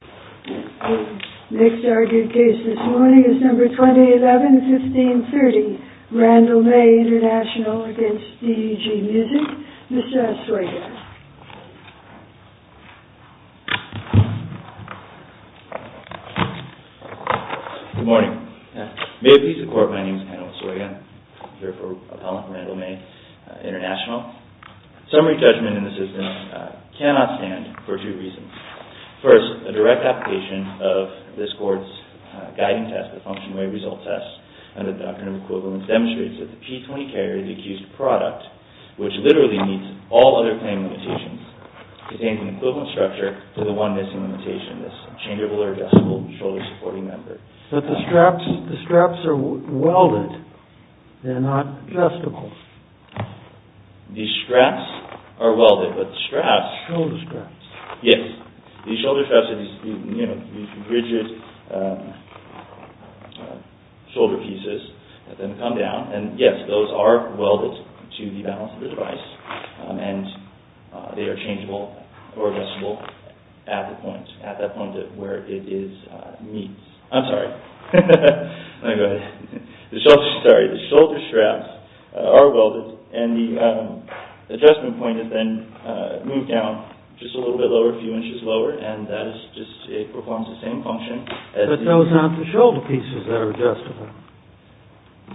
The next argued case this morning is No. 2011-1530. RANDALL MAY INTL v. DEG MUSIC. Mr. Oswega. Good morning. May it please the Court, my name is Hannibal Oswega. I'm here for Appellant Randall May, International. Summary judgment in the system cannot stand for two reasons. First, a direct application of this Court's Guiding Test, the Functionary Result Test, and the Doctrine of Equivalence demonstrates that the P-20 carrier, the accused product, which literally meets all other claim limitations, contains an equivalent structure to the one missing limitation, this interchangeable or adjustable shoulder supporting member. But the straps are welded, they're not adjustable. The straps are welded, but the straps... Shoulder straps. Yes, the shoulder straps are these rigid shoulder pieces that then come down, and yes, those are welded to the balance of the device, and they are changeable or adjustable at that point where it meets. I'm sorry. Go ahead. The shoulder straps are welded, and the adjustment point is then moved down just a little bit lower, a few inches lower, and that is just, it performs the same function. But those aren't the shoulder pieces that are adjustable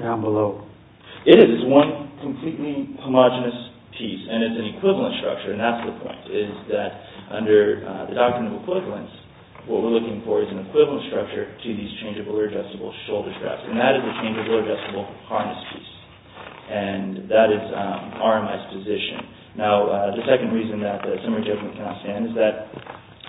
down below. It is. It's one completely homogenous piece, and it's an equivalent structure, and that's the point, is that under the Doctrine of Equivalence, what we're looking for is an equivalent structure to these changeable or adjustable shoulder straps, and that is a changeable or adjustable harness piece, and that is RMS position. Now, the second reason that the summary judgment cannot stand is that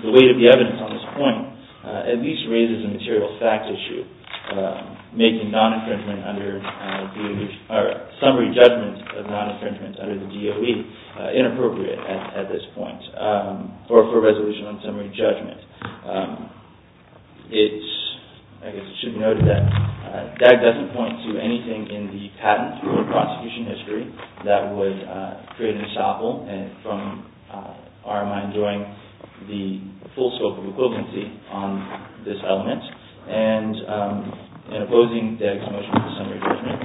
the weight of the evidence on this point at least raises a material fact issue, making non-infringement under the DOE, or summary judgment of non-infringement under the DOE inappropriate at this point or for resolution on summary judgment. I guess it should be noted that DAG doesn't point to anything in the patent or prosecution history that would create an example from RMI enjoying the full scope of equivalency on this element, and in opposing DAG's motion for summary judgment,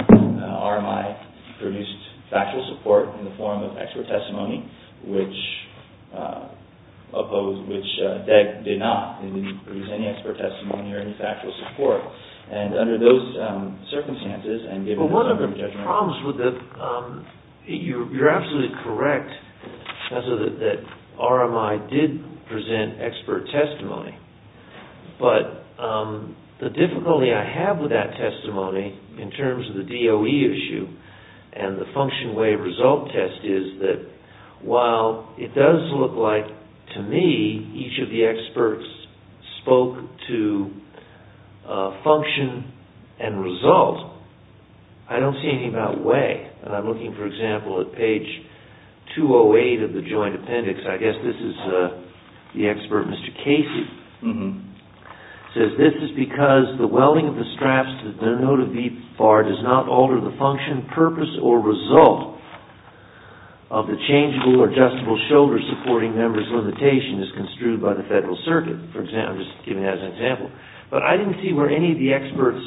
RMI produced factual support in the form of expert testimony, which opposed, which DAG did not. They didn't produce any expert testimony or any factual support, and under those circumstances and given the summary judgment... Well, one of the problems with the... You're absolutely correct, that RMI did present expert testimony, but the difficulty I have with that testimony in terms of the DOE issue and the function-way-result test is that while it does look like, to me, each of the experts spoke to function and result, I don't see anything about way. I'm looking, for example, at page 208 of the joint appendix. I guess this is the expert Mr. Casey. It says, This is because the welding of the straps to the denoted V-bar does not alter the function, purpose, or result of the changeable or adjustable shoulder-supporting member's limitation as construed by the Federal Circuit. I'm just giving that as an example. But I didn't see where any of the experts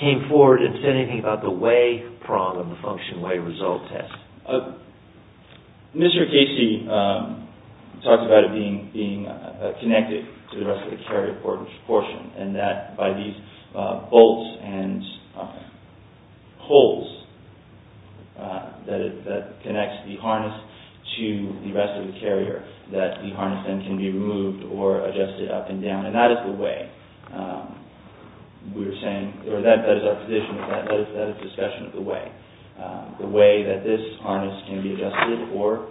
came forward and said anything about the way problem, the function-way-result test. Mr. Casey talked about it being connected to the rest of the carrier portion and that by these bolts and holes that connects the harness to the rest of the carrier, that the harness then can be removed or adjusted up and down. And that is the way we're saying, or that is our position, that is discussion of the way. The way that this harness can be adjusted or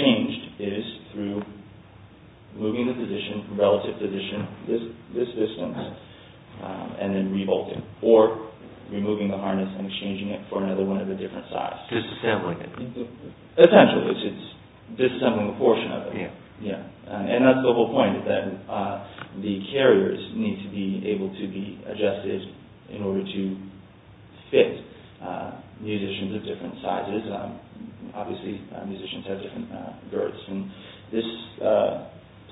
changed is through moving the relative position this distance and then re-bolting, or removing the harness and exchanging it for another one of a different size. Disassembling it. Potentially. It's disassembling a portion of it. And that's the whole point, that the carriers need to be able to be adjusted in order to fit musicians of different sizes. Obviously, musicians have different girths. And this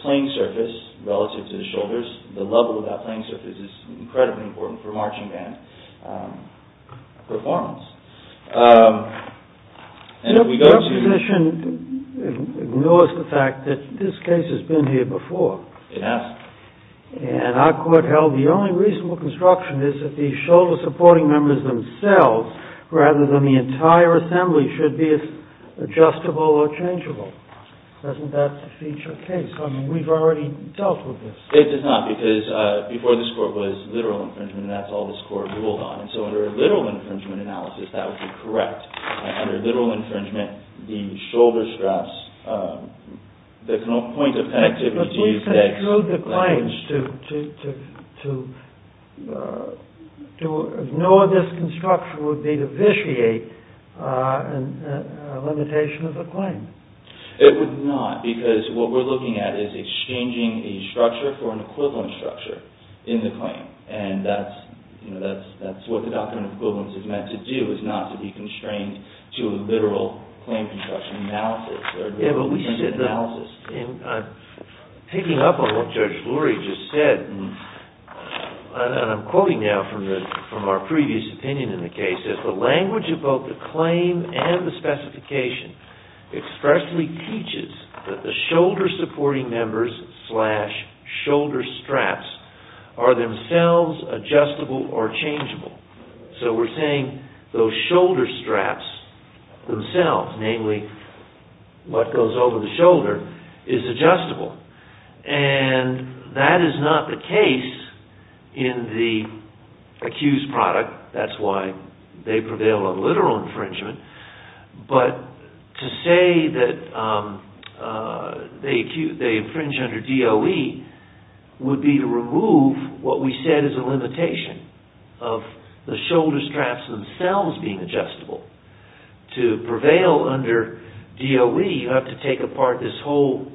playing surface relative to the shoulders, the level of that playing surface is incredibly important for marching band performance. Your position ignores the fact that this case has been here before. It has. And our court held the only reasonable construction is that the shoulder supporting members themselves rather than the entire assembly should be adjustable or changeable. Doesn't that feature a case? I mean, we've already dealt with this. It does not, because before this Court was literal infringement and that's all this Court ruled on. So under a literal infringement analysis, that would be correct. Under literal infringement, the shoulder straps, the point of connectivity... But we've construed the claims to ignore this construction would be to vitiate a limitation of a claim. It would not, because what we're looking at is exchanging a structure for an equivalent structure in the claim. And that's what the Doctrine of Equivalence is meant to do, is not to be constrained to a literal claim construction analysis. Yeah, but we said that... Picking up on what Judge Lurie just said, and I'm quoting now from our previous opinion in the case, the language of both the claim and the specification expressly teaches that the shoulder supporting members slash shoulder straps are themselves adjustable or changeable. So we're saying those shoulder straps themselves, namely what goes over the shoulder, is adjustable. And that is not the case in the accused product. That's why they prevail on literal infringement. But to say that they infringe under DOE would be to remove what we said is a limitation of the shoulder straps themselves being adjustable. To prevail under DOE, you have to take apart this whole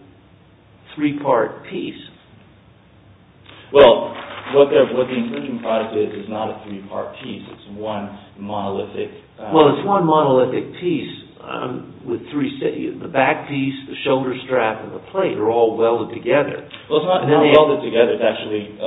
three-part piece. Well, what the infringement product is, is not a three-part piece. It's one monolithic... Well, it's one monolithic piece with three... The back piece, the shoulder strap, and the plate are all welded together. Well, it's not welded together. It's actually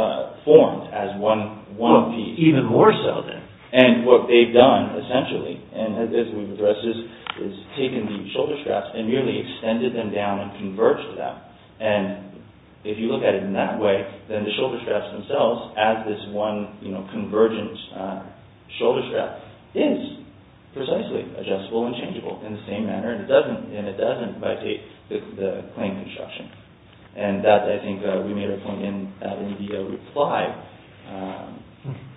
formed as one piece. Even more so, then. And what they've done, essentially, and as we've addressed this, is taken the shoulder straps and merely extended them down and converged them. And if you look at it in that way, then the shoulder straps themselves, as this one convergent shoulder strap, is precisely adjustable and changeable in the same manner, and it doesn't violate the claim construction. And that, I think, we made a point in the reply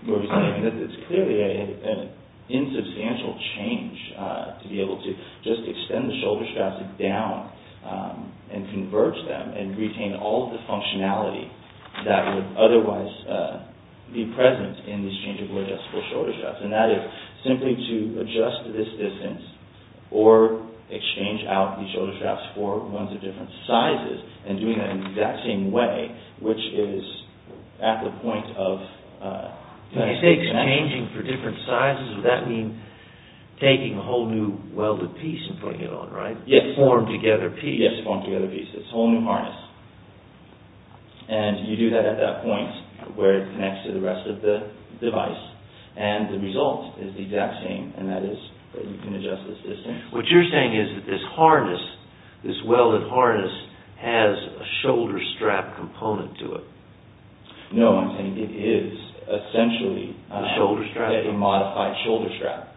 where we're saying that it's clearly an insubstantial change to be able to just extend the shoulder straps down and converge them and retain all of the functionality that would otherwise be present in these changeable adjustable shoulder straps. And that is simply to adjust this distance or exchange out these shoulder straps for ones of different sizes and doing that in the exact same way, which is at the point of... When you say exchanging for different sizes, does that mean taking a whole new welded piece and putting it on, right? Yes. Formed together piece. Yes, formed together piece. It's a whole new harness. And you do that at that point where it connects to the rest of the device and the result is the exact same, and that is that you can adjust this distance. What you're saying is that this harness, this welded harness, has a shoulder strap component to it. No, I'm saying it is essentially a modified shoulder strap.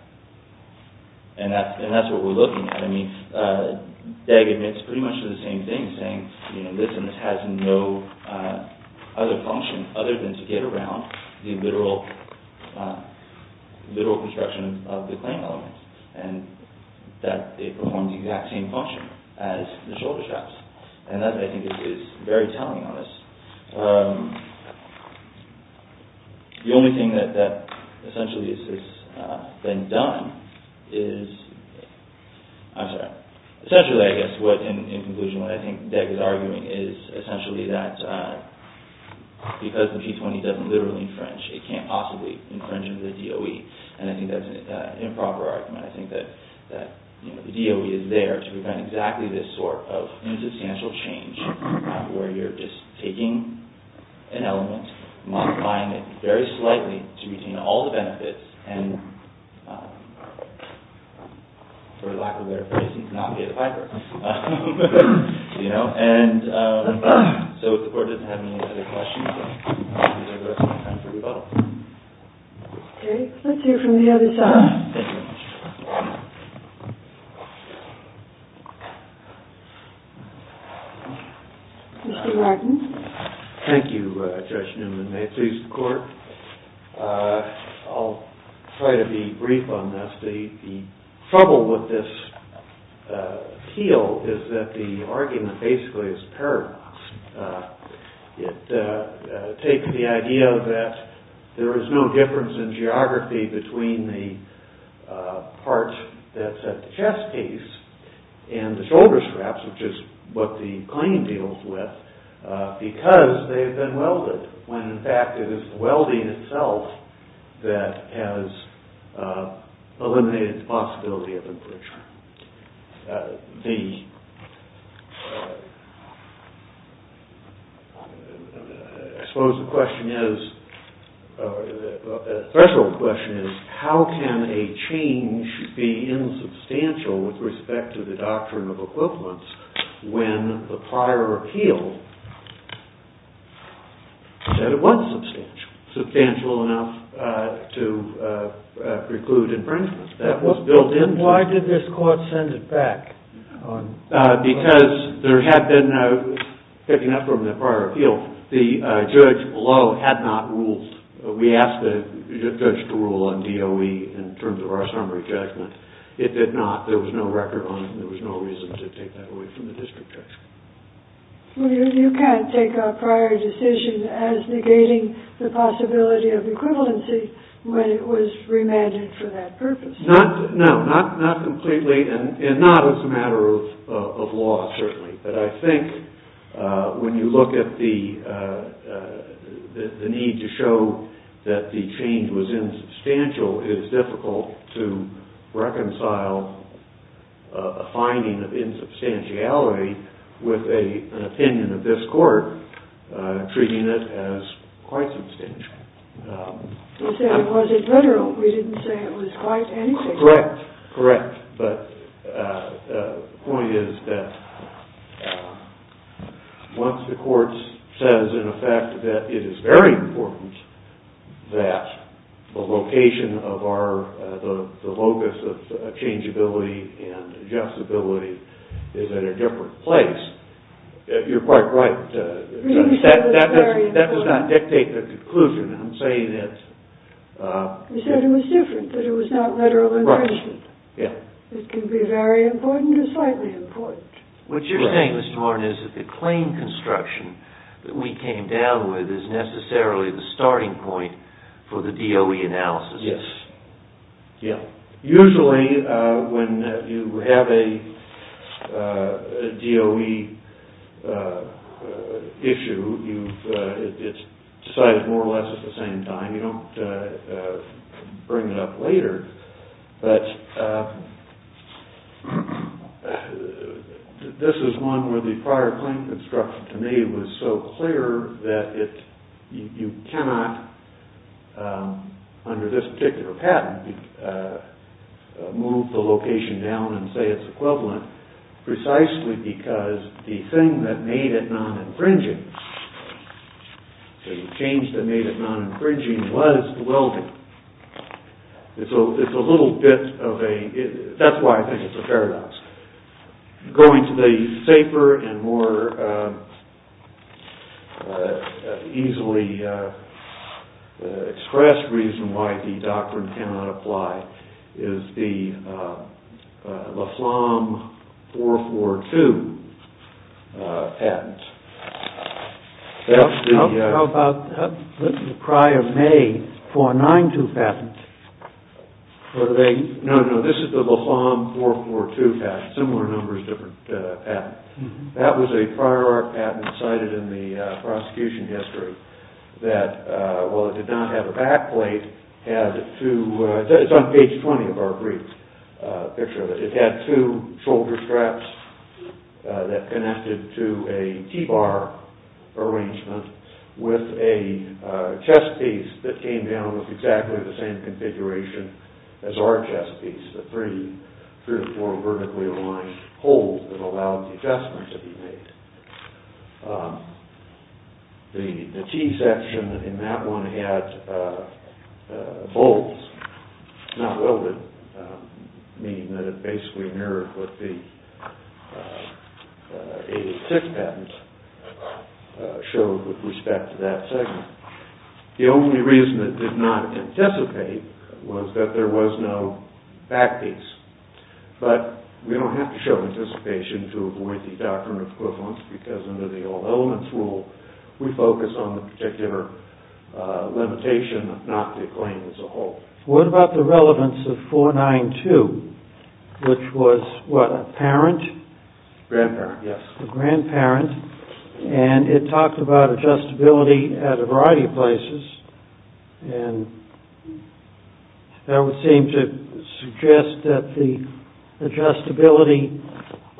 And that's what we're looking at. I mean, Deg admits pretty much the same thing, saying this and this has no other function other than to get around the literal construction of the claim element and that it performs the exact same function as the shoulder straps. And that, I think, is very telling on this. The only thing that essentially has been done is... I'm sorry. Essentially, I guess, in conclusion, what I think Deg is arguing is essentially that because the P20 doesn't literally infringe, it can't possibly infringe into the DOE. And I think that's an improper argument. I think that the DOE is there to prevent exactly this sort of insubstantial change where you're just taking an element, modifying it very slightly to retain all the benefits, and, for lack of a better phrase, not pay the piper. You know? And so, if the Court doesn't have any other questions, I'll use the rest of my time to rebuttal. Okay. Let's hear from the other side. Thank you. Mr. Martin. Thank you, Judge Newman. May it please the Court. I'll try to be brief on this. The trouble with this appeal is that the argument basically is paradox. It takes the idea that there is no difference in geography between the part that's at the chest case and the shoulder straps, which is what the claim deals with, because they've been welded. When, in fact, it is the welding itself that has eliminated the possibility of a breach. I suppose the question is, the threshold question is, how can a change be insubstantial with respect to the doctrine of equivalence when the prior appeal said it was substantial? Substantial enough to preclude infringement. That was built into it. Then why did this Court send it back? Because there had been, picking up from the prior appeal, the judge below had not ruled. We asked the judge to rule on DOE in terms of our summary judgment. It did not. There was no record on it, and there was no reason to take that away from the district judge. Well, you can't take a prior decision as negating the possibility of equivalency when it was remanded for that purpose. No, not completely, and not as a matter of law, certainly. But I think when you look at the need to show that the change was insubstantial, it is difficult to reconcile a finding of insubstantiality with an opinion of this Court treating it as quite substantial. You said it was admineral. We didn't say it was quite anything. Correct. Correct. But the point is that once the Court says, in effect, that it is very important that the location of our, the locus of changeability and adjustability is at a different place, you're quite right. That does not dictate the conclusion. I'm saying that... You said it was different, that it was not literal and printed. Yeah. It can be very important or slightly important. What you're saying, Mr. Warren, is that the claim construction that we came down with is necessarily the starting point for the DOE analysis. Yes. Yeah. Usually, when you have a DOE issue, it's decided more or less at the same time. You don't bring it up later. This is one where the prior claim construction to me was so clear that you cannot, under this particular patent, move the location down and say it's equivalent precisely because the thing that made it non-infringing, the change that made it non-infringing was the welding. It's a little bit of a... That's why I think it's a paradox. Going to the safer and more easily expressed reason why the doctrine cannot apply is the Laflamme 442 patent. How about the prior May 492 patent? No, no. This is the Laflamme 442 patent. Similar numbers, different patents. That was a prior art patent cited in the prosecution history that, while it did not have a back plate, had two... It's on page 20 of our brief picture. It had two shoulder straps that connected to a T-bar arrangement with a chest piece that came down with exactly the same configuration as our chest piece, the three or four vertically aligned holes that allowed the adjustment to be made. The T-section in that one only had bolts, not welded, meaning that it basically mirrored what the 86 patent showed with respect to that segment. The only reason it did not anticipate was that there was no back piece. But we don't have to show anticipation to avoid the doctrine of equivalence because under the all-elements rule we focus on the particular limitation not to claim as a whole. What about the relevance of 492, which was, what, a parent? Grandparent, yes. A grandparent. And it talked about adjustability at a variety of places. And that would seem to suggest that the adjustability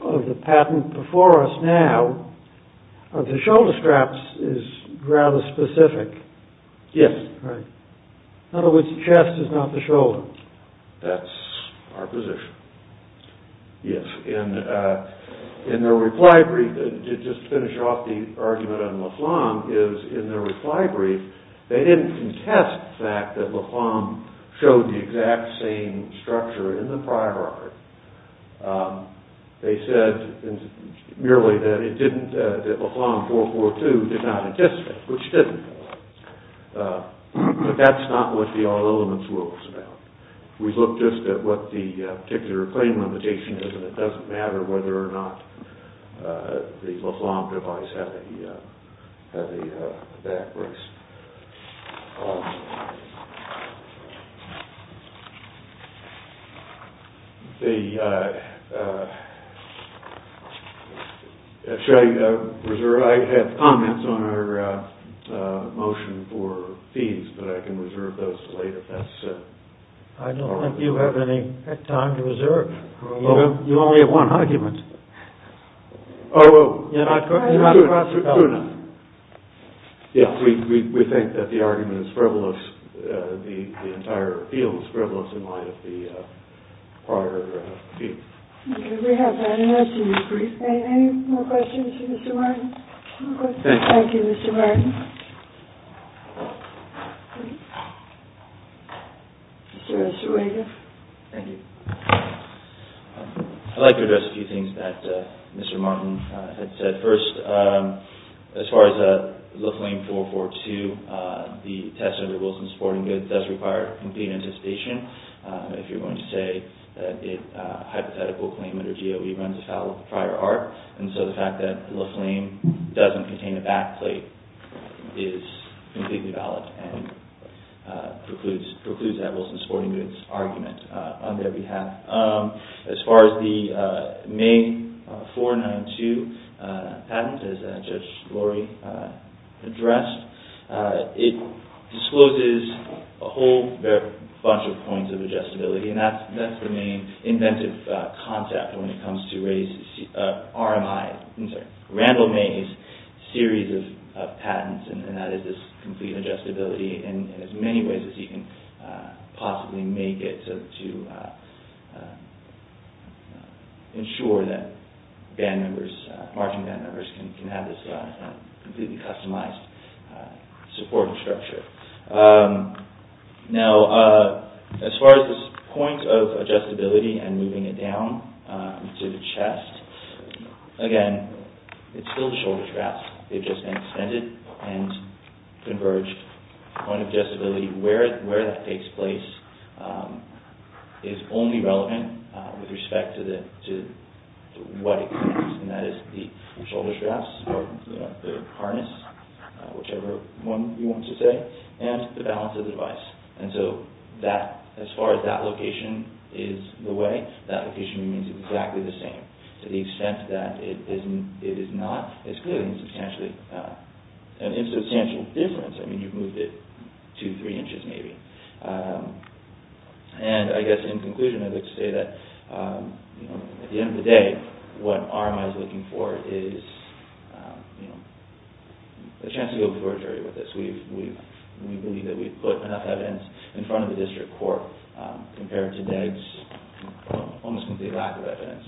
of the patent before us now of the shoulder straps is rather specific. Yes. Right. In other words, the chest is not the shoulder. That's our position. Yes. In their reply brief, to just finish off the argument on Leflamme, is in their reply brief they didn't contest the fact that Leflamme showed the exact same structure in the prior art. They said, merely that it didn't, that Leflamme 442 did not anticipate, which didn't. But that's not what the all-elements rule is about. We look just at what the particular claim limitation is and it doesn't matter whether or not the Leflamme device has a back brace. I have comments on our motion for fees, but I can reserve those for later. I don't think you have any time to reserve. You only have one argument. Oh, oh. You're not cross-talking. Yes, we think that the argument is frivolous. The entire appeal is frivolous in light of the prior appeal. Okay, we have that. Any more questions for Mr. Martin? Thank you, Mr. Martin. Mr. Escherwede. Thank you. I'd like to address a few things that Mr. Martin had said. First, as far as Leflamme 442, the test under Wilson Sporting Goods does require complete anticipation. If you're going to say that a hypothetical claim under GOE runs afoul of the prior art, and so the fact that Leflamme doesn't contain a back plate is completely valid and precludes that Wilson Sporting Goods argument on their behalf. As far as the May 492 patent, as Judge Lori addressed, it discloses a whole bunch of points of adjustability, and that's the main inventive concept when it comes to RMI, Randall Mays' series of patents, and that is this complete adjustability in as many ways as you can possibly make it to ensure that marching band members can have this completely customized supporting structure. Now, as far as this point of adjustability and moving it down to the chest, again, it's still the shoulder straps. They've just been extended and converged. The point of adjustability, where that takes place, is only relevant with respect to what it contains, and that is the shoulder straps, or the harness, whichever one you want to say, and the balance of the device. And so as far as that location is the way, that location remains exactly the same to the extent that it is not. It's clearly an insubstantial difference. I mean, you've moved it two, three inches, maybe. And I guess in conclusion, I'd like to say that at the end of the day, what RMI is looking for is a chance to go before a jury with this. We believe that we've put enough evidence in front of the district court compared to DEG's almost complete lack of evidence,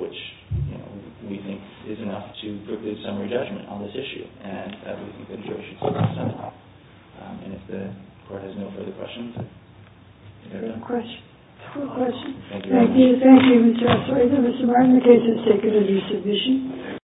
which we think is enough to preclude summary judgment on this issue, and we think the jury should step up somehow. And if the court has no further questions... Any questions? Thank you. Thank you, Mr. Osorio. Mr. Martin, the case has taken a resubmission.